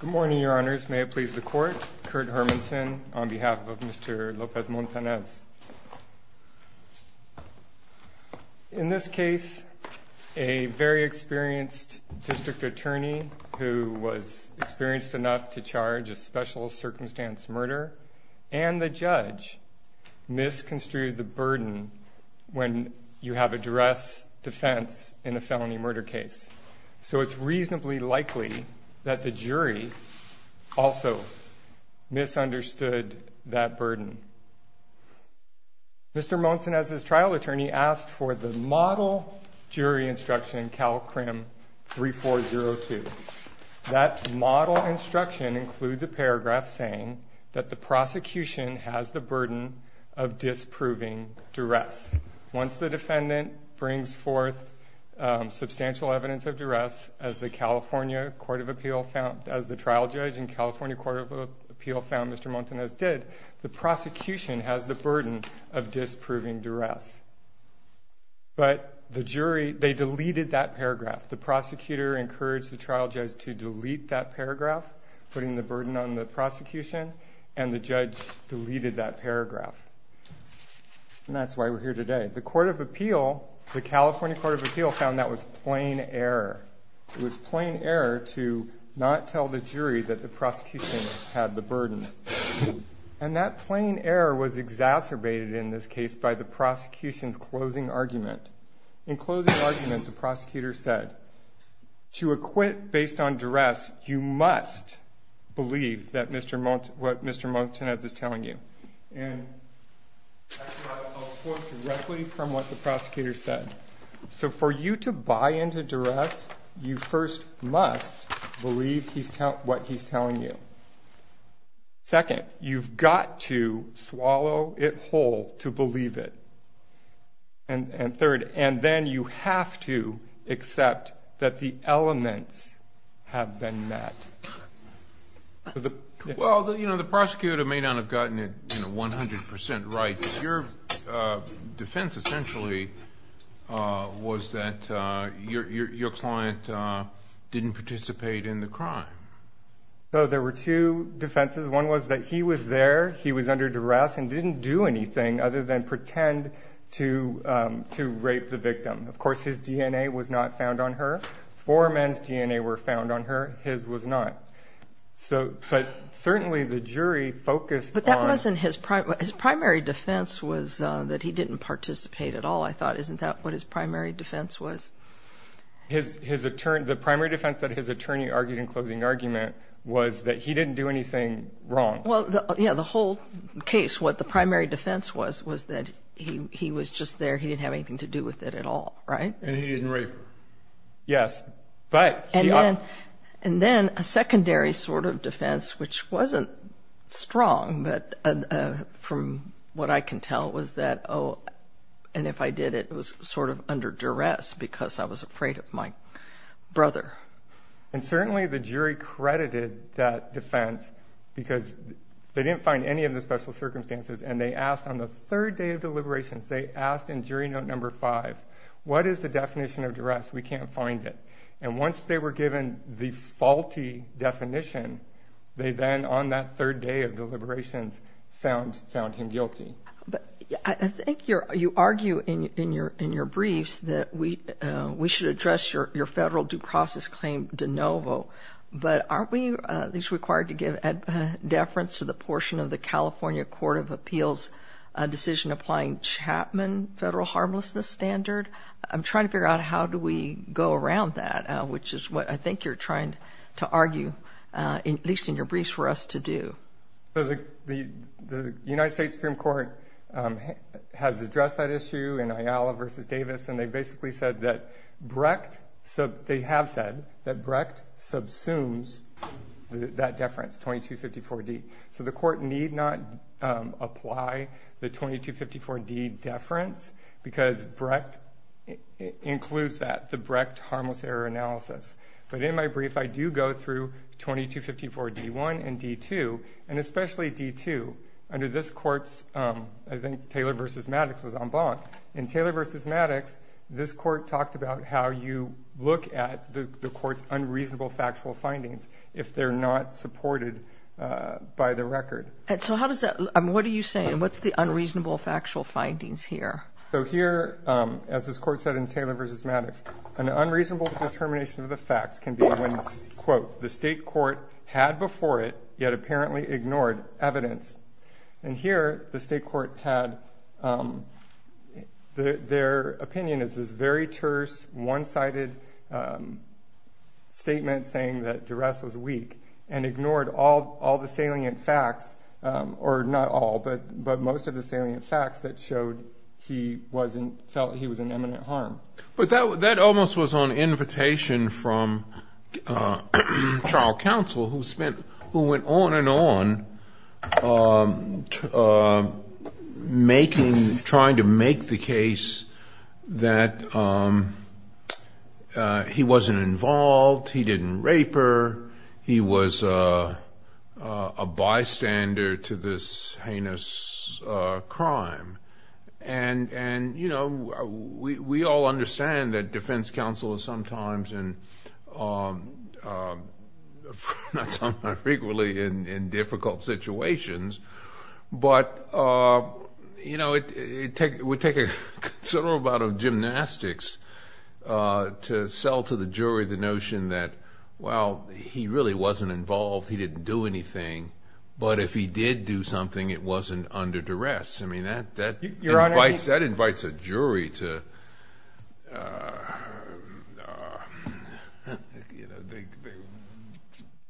Good morning, your honors. May it please the court. Kurt Hermanson on behalf of Mr. Lopez Montanez. In this case, a very experienced district attorney who was experienced enough to charge a special circumstance murder, and the judge misconstrued the burden when you have a duress defense in a felony murder case. So it's reasonably likely that the jury also misunderstood that burden. Mr. Montanez's trial attorney asked for the model jury instruction in Cal CRIM 3402. That model instruction includes a paragraph saying that the prosecution has the burden of disproving duress. Once the defendant brings forth substantial evidence of duress, as the trial judge in California Court of Appeal found Mr. Montanez did, the prosecution has the burden of disproving duress. But they deleted that paragraph. The prosecutor encouraged the trial judge to delete that paragraph, putting the burden on the prosecution, and the judge deleted that paragraph. And that's why we're here today. The California Court of Appeal found that was plain error. It was plain error to not tell the jury that the prosecution had the burden. And that plain error was exacerbated in this case by the prosecution's closing argument. In closing argument, the prosecutor said, To acquit based on duress, you must believe what Mr. Montanez is telling you. And I'll quote directly from what the prosecutor said. So for you to buy into duress, you first must believe what he's telling you. Second, you've got to swallow it whole to believe it. And third, and then you have to accept that the elements have been met. Well, you know, the prosecutor may not have gotten it 100% right, but your defense essentially was that your client didn't participate in the crime. So there were two defenses. One was that he was there, he was under duress, and didn't do anything other than pretend to rape the victim. Of course, his DNA was not found on her. Four men's DNA were found on her. His was not. But certainly the jury focused on – But that wasn't his – his primary defense was that he didn't participate at all, I thought. Isn't that what his primary defense was? The primary defense that his attorney argued in closing argument was that he didn't do anything wrong. Well, yeah, the whole case, what the primary defense was, was that he was just there, he didn't have anything to do with it at all, right? And he didn't rape her. Yes. And then a secondary sort of defense, which wasn't strong, but from what I can tell, was that, oh, and if I did it, it was sort of under duress because I was afraid of my brother. And certainly the jury credited that defense because they didn't find any of the special circumstances, and they asked on the third day of deliberations, they asked in jury note number five, what is the definition of duress? We can't find it. And once they were given the faulty definition, they then, on that third day of deliberations, found him guilty. I think you argue in your briefs that we should address your federal due process claim de novo, but aren't we at least required to give deference to the portion of the California Court of Appeals decision applying Chapman federal harmlessness standard? I'm trying to figure out how do we go around that, which is what I think you're trying to argue, at least in your briefs, for us to do. So the United States Supreme Court has addressed that issue in Ayala v. Davis, and they basically said that Brecht, they have said that Brecht subsumes that deference, 2254D. So the court need not apply the 2254D deference because Brecht includes that, the Brecht harmless error analysis. But in my brief, I do go through 2254D1 and D2, and especially D2. Under this court's, I think Taylor v. Maddox was en banc. In Taylor v. Maddox, this court talked about how you look at the court's unreasonable factual findings if they're not supported by the record. So how does that, what are you saying? What's the unreasonable factual findings here? So here, as this court said in Taylor v. Maddox, an unreasonable determination of the facts can be when, quote, the state court had before it yet apparently ignored evidence. And here, the state court had, their opinion is this very terse, one-sided statement saying that Duress was weak and ignored all the salient facts, or not all, but most of the salient facts that showed he wasn't, felt he was in imminent harm. But that almost was on invitation from trial counsel who spent, who went on and on making, trying to make the case that he wasn't involved, he didn't rape her, he was a bystander to this heinous crime. And, you know, we all understand that defense counsel is sometimes, not sometimes, frequently in difficult situations. But, you know, it would take a considerable amount of gymnastics to sell to the jury the notion that, well, he really wasn't involved, he didn't do anything, but if he did do something, it wasn't under Duress. I mean, that invites a jury to, you know,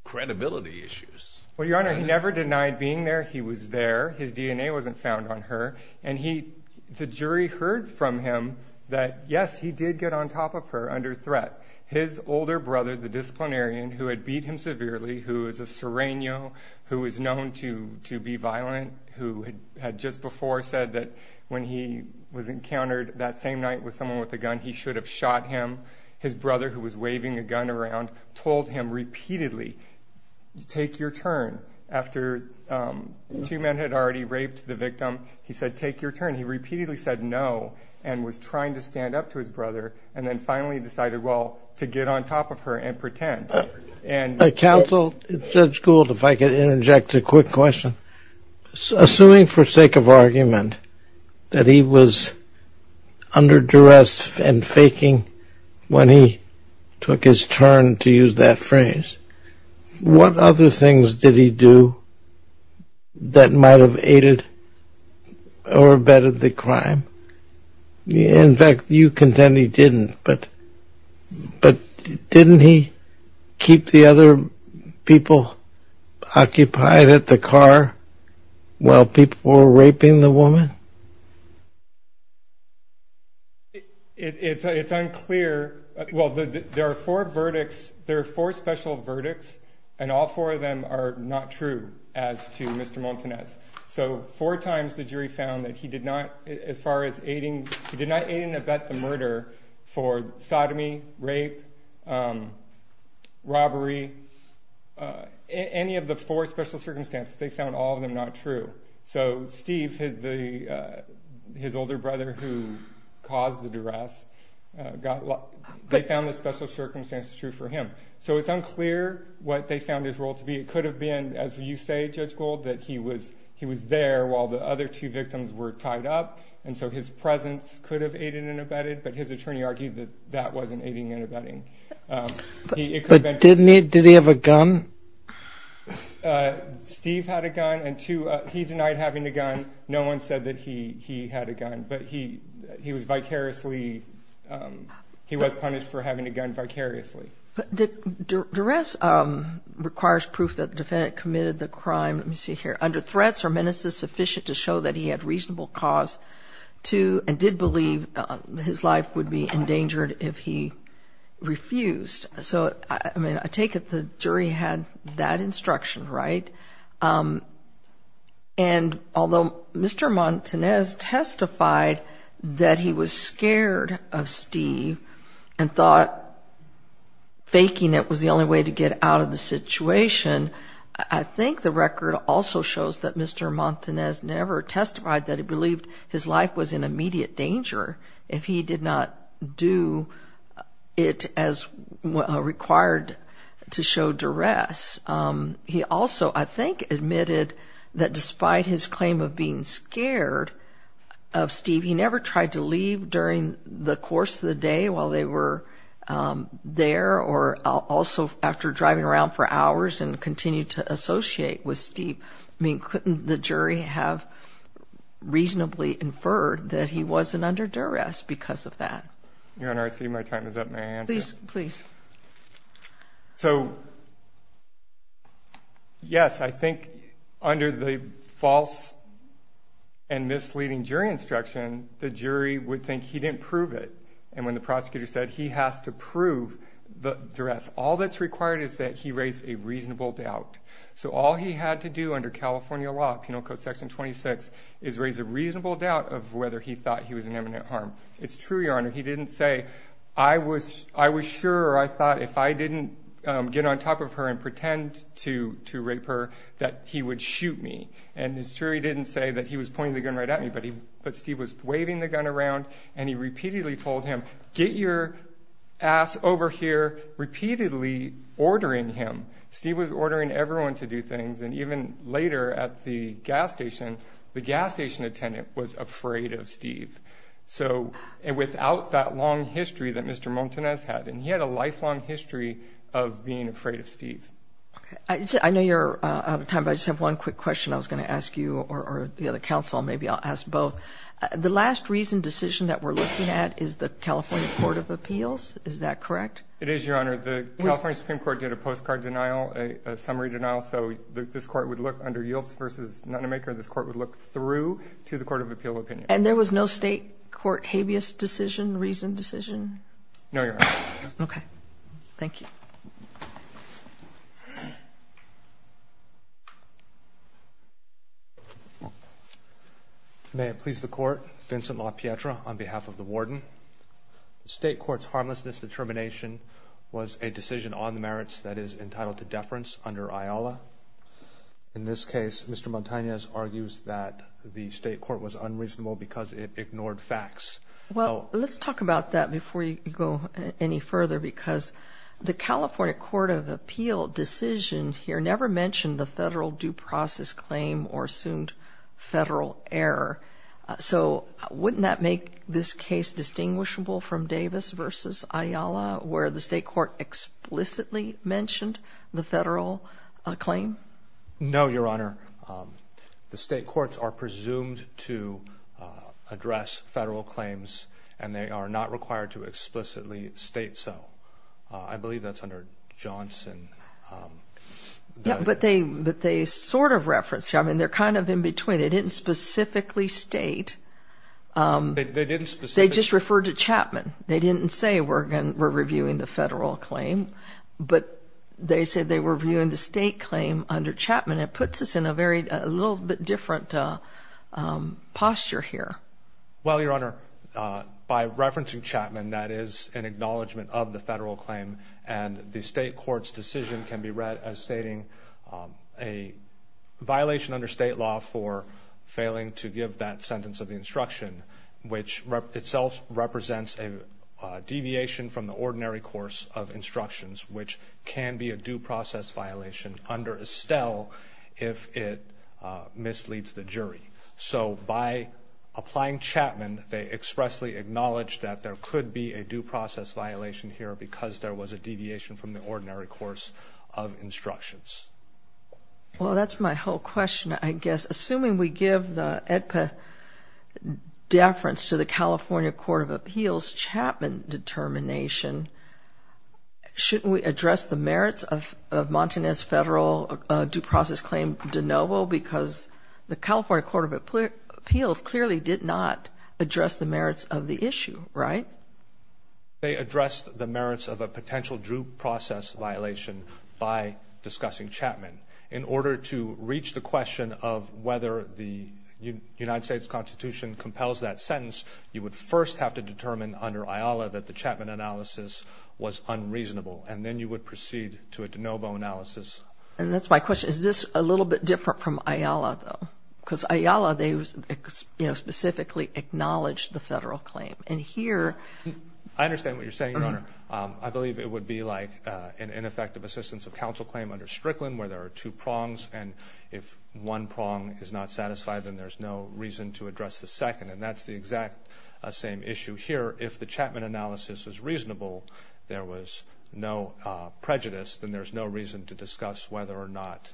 credibility issues. Well, Your Honor, he never denied being there. He was there. His DNA wasn't found on her. And he, the jury heard from him that, yes, he did get on top of her under threat. His older brother, the disciplinarian, who had beat him severely, who is a sereno, who is known to be violent, who had just before said that when he was encountered that same night with someone with a gun, he should have shot him. His brother, who was waving a gun around, told him repeatedly, take your turn. After two men had already raped the victim, he said, take your turn. He repeatedly said no and was trying to stand up to his brother. And then finally decided, well, to get on top of her and pretend. Counsel, Judge Gould, if I could interject a quick question. Assuming for sake of argument that he was under Duress and faking when he took his turn, to use that phrase, what other things did he do that might have aided or abetted the crime? In fact, you contend he didn't. But didn't he keep the other people occupied at the car while people were raping the woman? It's unclear. Well, there are four verdicts. There are four special verdicts, and all four of them are not true as to Mr. Montanez. So four times the jury found that he did not, as far as aiding, he did not aid and abet the murder for sodomy, rape, robbery. Any of the four special circumstances, they found all of them not true. So Steve, his older brother who caused the Duress, they found the special circumstances true for him. So it's unclear what they found his role to be. It could have been, as you say, Judge Gold, that he was there while the other two victims were tied up, and so his presence could have aided and abetted, but his attorney argued that that wasn't aiding and abetting. But didn't he? Did he have a gun? Steve had a gun, and two, he denied having a gun. No one said that he had a gun, but he was vicariously, he was punished for having a gun vicariously. But Duress requires proof that the defendant committed the crime, let me see here, under threats or menaces sufficient to show that he had reasonable cause to and did believe his life would be endangered if he refused. So, I mean, I take it the jury had that instruction, right? And although Mr. Montanez testified that he was scared of Steve and thought faking it was the only way to get out of the situation, I think the record also shows that Mr. Montanez never testified that he believed his life was in immediate danger if he did not do it as required to show Duress. He also, I think, admitted that despite his claim of being scared of Steve, he never tried to leave during the course of the day while they were there or also after driving around for hours and continued to associate with Steve. I mean, couldn't the jury have reasonably inferred that he wasn't under Duress because of that? Your Honor, I see my time is up. May I answer? Please, please. So, yes, I think under the false and misleading jury instruction, the jury would think he didn't prove it. And when the prosecutor said he has to prove Duress, all that's required is that he raise a reasonable doubt. So all he had to do under California law, Penal Code Section 26, is raise a reasonable doubt of whether he thought he was in imminent harm. It's true, Your Honor. He didn't say, I was sure or I thought if I didn't get on top of her and pretend to rape her that he would shoot me. And it's true he didn't say that he was pointing the gun right at me, but Steve was waving the gun around and he repeatedly told him, get your ass over here, repeatedly ordering him. Steve was ordering everyone to do things. And even later at the gas station, the gas station attendant was afraid of Steve. So without that long history that Mr. Montanez had, and he had a lifelong history of being afraid of Steve. Okay. I know you're out of time, but I just have one quick question I was going to ask you or the other counsel, maybe I'll ask both. The last reason decision that we're looking at is the California Court of Appeals, is that correct? It is, Your Honor. The California Supreme Court did a postcard denial, a summary denial, so this court would look under Yilts v. Nunnemaker, this court would look through to the Court of Appeal opinion. And there was no state court habeas decision, reasoned decision? No, Your Honor. Okay. Thank you. May it please the Court, Vincent LaPietra on behalf of the warden. The state court's harmlessness determination was a decision on the merits that is entitled to deference under IOLA. In this case, Mr. Montanez argues that the state court was unreasonable because it ignored facts. Well, let's talk about that before you go any further because the California Court of Appeal decision here never mentioned the federal due process claim or assumed federal error. So wouldn't that make this case distinguishable from Davis v. IOLA, where the state court explicitly mentioned the federal claim? No, Your Honor. The state courts are presumed to address federal claims and they are not required to explicitly state so. I believe that's under Johnson. Yeah, but they sort of reference. I mean, they're kind of in between. They didn't specifically state. They didn't specifically. They just referred to Chapman. They didn't say we're reviewing the federal claim, but they said they were reviewing the state claim under Chapman. It puts us in a little bit different posture here. Well, Your Honor, by referencing Chapman, that is an acknowledgment of the federal claim, and the state court's decision can be read as stating a violation under state law for failing to give that sentence of the instruction, which itself represents a deviation from the ordinary course of instructions, which can be a due process violation under Estelle if it misleads the jury. So by applying Chapman, they expressly acknowledged that there could be a due process violation here because there was a deviation from the ordinary course of instructions. Well, that's my whole question, I guess. Assuming we give the AEDPA deference to the California Court of Appeals, Chapman determination, shouldn't we address the merits of Montanez federal due process claim de novo because the California Court of Appeals clearly did not address the merits of the issue, right? They addressed the merits of a potential due process violation by discussing In order to reach the question of whether the United States Constitution compels that sentence, you would first have to determine under IALA that the Chapman analysis was unreasonable, and then you would proceed to a de novo analysis. And that's my question. Is this a little bit different from IALA, though? Because IALA, they specifically acknowledged the federal claim. I understand what you're saying, Your Honor. I believe it would be like an ineffective assistance of counsel claim under Strickland where there are two prongs, and if one prong is not satisfied, then there's no reason to address the second. And that's the exact same issue here. If the Chapman analysis is reasonable, there was no prejudice, then there's no reason to discuss whether or not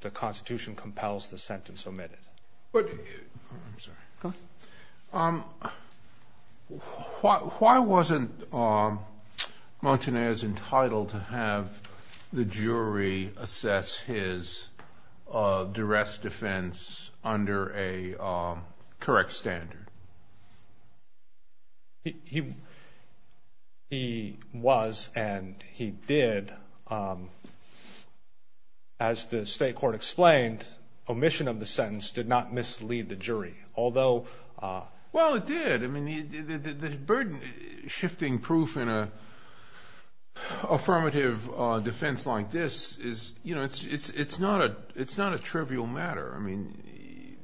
the Constitution compels the sentence omitted. I'm sorry. Why wasn't Montanez entitled to have the jury assess his duress defense under a correct standard? He was, and he did. And as the state court explained, omission of the sentence did not mislead the jury. Well, it did. I mean, the burden shifting proof in an affirmative defense like this is, you know, it's not a trivial matter. I mean,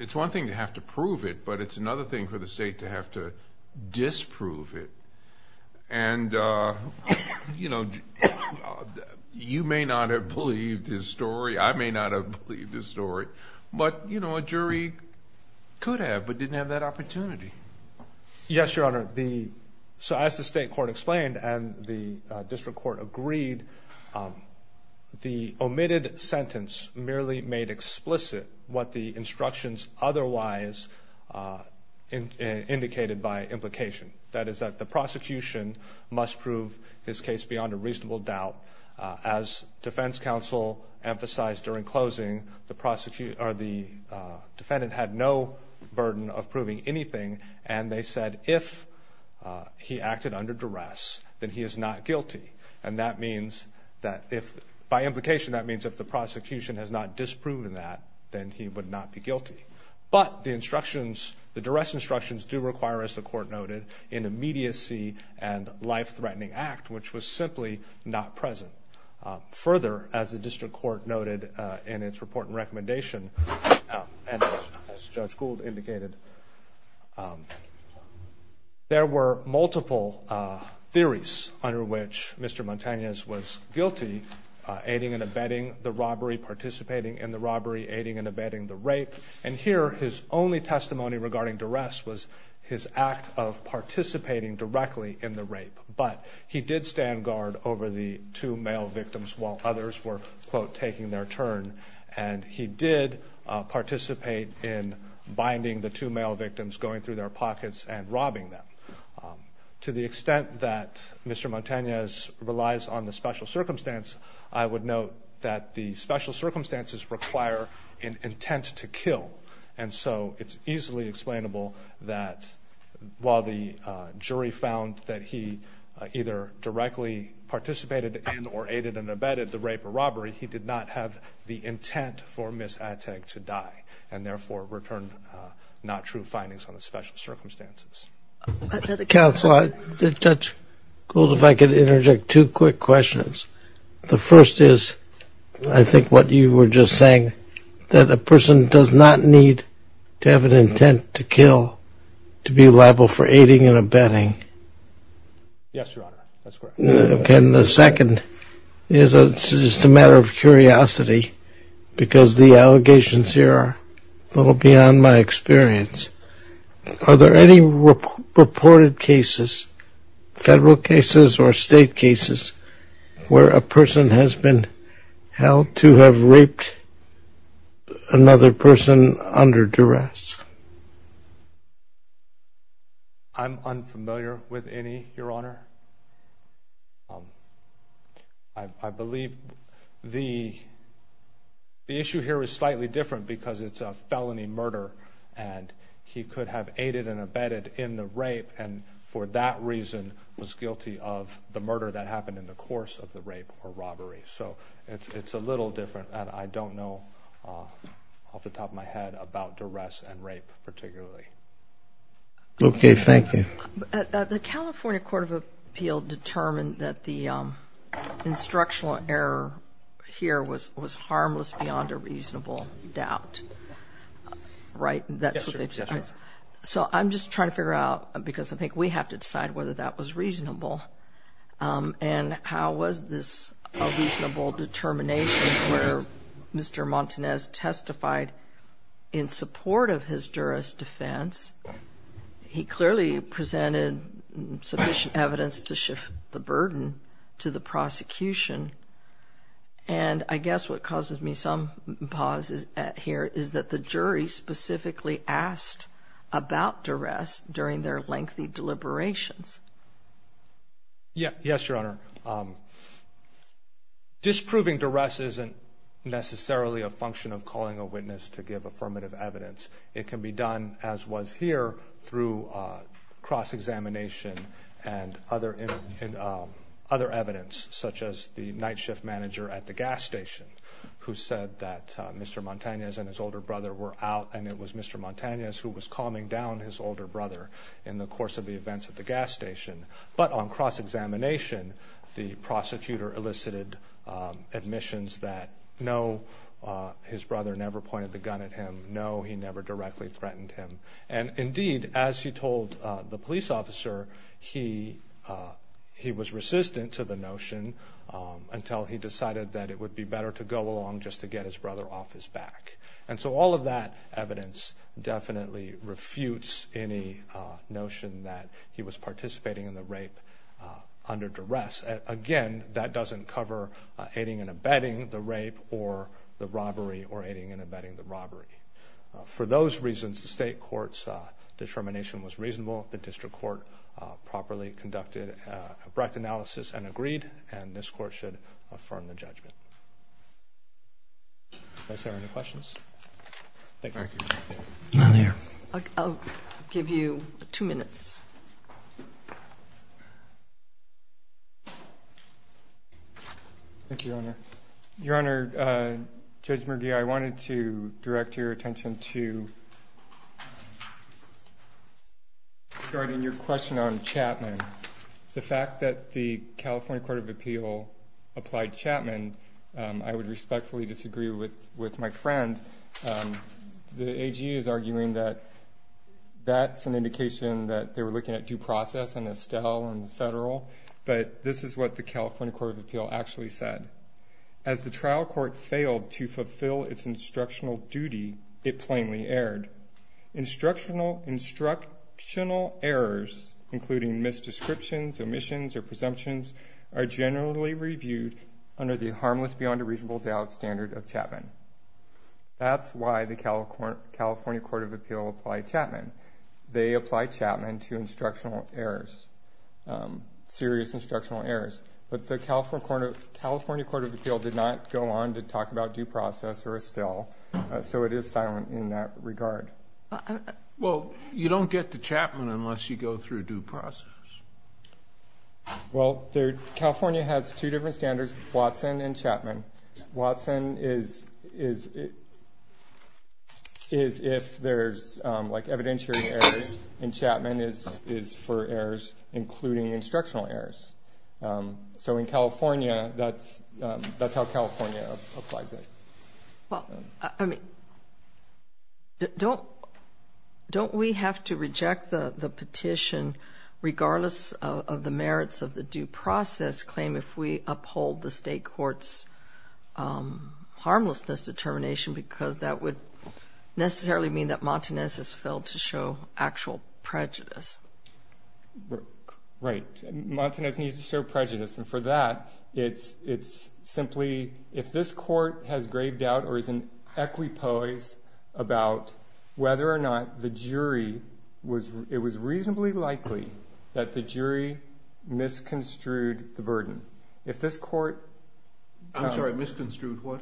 it's one thing to have to prove it, but it's another thing for the state to have to disprove it. And, you know, you may not have believed his story. I may not have believed his story. But, you know, a jury could have but didn't have that opportunity. Yes, Your Honor. So as the state court explained and the district court agreed, the omitted sentence merely made explicit what the instructions otherwise indicated by implication. That is that the prosecution must prove his case beyond a reasonable doubt. As defense counsel emphasized during closing, the defendant had no burden of proving anything, and they said if he acted under duress, then he is not guilty. And that means that if, by implication, that means if the prosecution has not disproven that, then he would not be guilty. But the instructions, the duress instructions do require, as the court noted, an immediacy and life-threatening act, which was simply not present. Further, as the district court noted in its report and recommendation, and as Judge Gould indicated, there were multiple theories under which Mr. Montañez was guilty, aiding and abetting the robbery, participating in the robbery, aiding and abetting the rape. And here his only testimony regarding duress was his act of participating directly in the rape. But he did stand guard over the two male victims while others were, quote, taking their turn. And he did participate in binding the two male victims, going through their pockets, and robbing them. To the extent that Mr. Montañez relies on the special circumstance, I would note that the special circumstances require an intent to kill. And so it's easily explainable that while the jury found that he either directly participated in or aided and abetted the rape or robbery, he did not have the intent for Ms. Attegg to die, and therefore returned not true findings on the special circumstances. Counsel, Judge Gould, if I could interject two quick questions. The first is I think what you were just saying, that a person does not need to have an intent to kill to be liable for aiding and abetting. Yes, Your Honor, that's correct. And the second is just a matter of curiosity, because the allegations here are a little beyond my experience. Are there any reported cases, federal cases or state cases, where a person has been held to have raped another person under duress? I'm unfamiliar with any, Your Honor. I believe the issue here is slightly different because it's a felony murder, and he could have aided and abetted in the rape, and for that reason was guilty of the murder that happened in the course of the rape or robbery. So it's a little different, and I don't know off the top of my head about duress and rape particularly. Okay, thank you. The California Court of Appeal determined that the instructional error here was harmless beyond a reasonable doubt, right? Yes, Your Honor. So I'm just trying to figure out, because I think we have to decide whether that was reasonable, and how was this a reasonable determination where Mr. Montanez testified in support of his duress defense? He clearly presented sufficient evidence to shift the burden to the prosecution, and I guess what causes me some pause here is that the jury specifically asked about duress during their lengthy deliberations. Yes, Your Honor. Disproving duress isn't necessarily a function of calling a witness to give affirmative evidence. It can be done, as was here, through cross-examination and other evidence, such as the night shift manager at the gas station, who said that Mr. Montanez and his older brother were out, and it was Mr. Montanez who was calming down his older brother in the course of the events at the gas station. But on cross-examination, the prosecutor elicited admissions that, no, his brother never pointed the gun at him, no, he never directly threatened him. And indeed, as he told the police officer, he was resistant to the notion until he decided that it would be better to go along just to get his brother off his back. And so all of that evidence definitely refutes any notion that he was participating in the rape under duress. Again, that doesn't cover aiding and abetting the rape or the robbery or aiding and abetting the robbery. For those reasons, the state court's determination was reasonable. The district court properly conducted a bright analysis and agreed, and this court should affirm the judgment. Do I see any questions? Thank you. Thank you, Your Honor. Your Honor, Judge McGee, I wanted to direct your attention to regarding your question on Chapman. The fact that the California Court of Appeal applied Chapman, I would respectfully disagree with my friend. The AG is arguing that that's an indication that they were looking at due process and Estelle and the federal, but this is what the California Court of Appeal actually said. As the trial court failed to fulfill its instructional duty, it plainly erred. Instructional errors, including misdescriptions, omissions, or presumptions, are generally reviewed under the harmless beyond a reasonable doubt standard of Chapman. That's why the California Court of Appeal applied Chapman. They applied Chapman to instructional errors, serious instructional errors. But the California Court of Appeal did not go on to talk about due process or Estelle, so it is silent in that regard. Well, you don't get to Chapman unless you go through due process. Well, California has two different standards, Watson and Chapman. Watson is if there's, like, evidentiary errors, and Chapman is for errors including instructional errors. So in California, that's how California applies it. Well, I mean, don't we have to reject the petition, regardless of the merits of the due process claim, if we uphold the state court's harmlessness determination, because that would necessarily mean that Montanez has failed to show actual prejudice. Right. Montanez needs to show prejudice, and for that, it's simply if this court has grave doubt or is in equipoise about whether or not the jury was reasonably likely that the jury misconstrued the burden. If this court— I'm sorry, misconstrued what?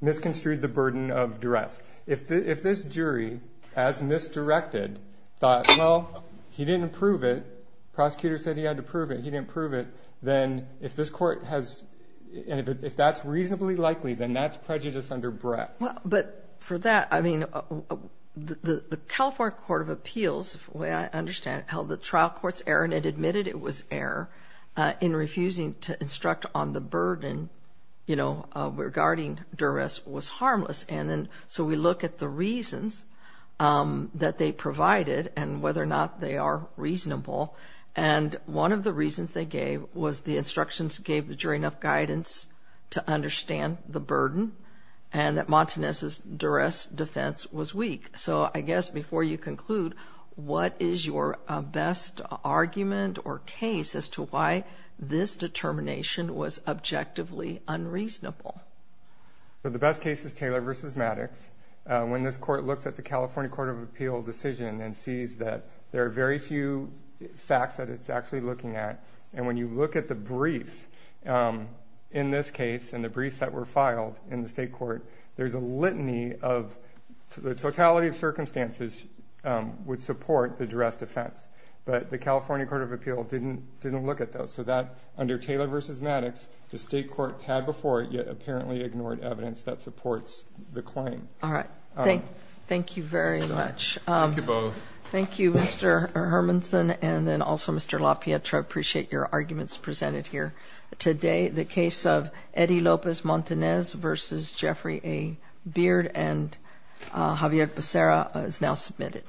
Misconstrued the burden of duress. If this jury, as misdirected, thought, well, he didn't prove it, prosecutor said he had to prove it, he didn't prove it, then if this court has—and if that's reasonably likely, then that's prejudice under breadth. But for that, I mean, the California Court of Appeals, the way I understand it, held the trial court's error, and it admitted it was error, in refusing to instruct on the burden regarding duress was harmless. And then so we look at the reasons that they provided and whether or not they are reasonable, and one of the reasons they gave was the instructions gave the jury enough guidance to understand the burden and that Montanez's duress defense was weak. So I guess before you conclude, what is your best argument or case as to why this determination was objectively unreasonable? The best case is Taylor v. Maddox. When this court looks at the California Court of Appeals decision and sees that there are very few facts that it's actually looking at, and when you look at the briefs in this case and the briefs that were filed in the state court, there's a litany of—the totality of circumstances would support the duress defense, but the California Court of Appeals didn't look at those. So that, under Taylor v. Maddox, the state court had before it, yet apparently ignored evidence that supports the claim. All right. Thank you very much. Thank you both. Thank you, Mr. Hermanson, and then also Mr. LaPietra. I appreciate your arguments presented here today. The case of Eddie Lopez-Montanez v. Jeffrey A. Beard and Javier Becerra is now submitted.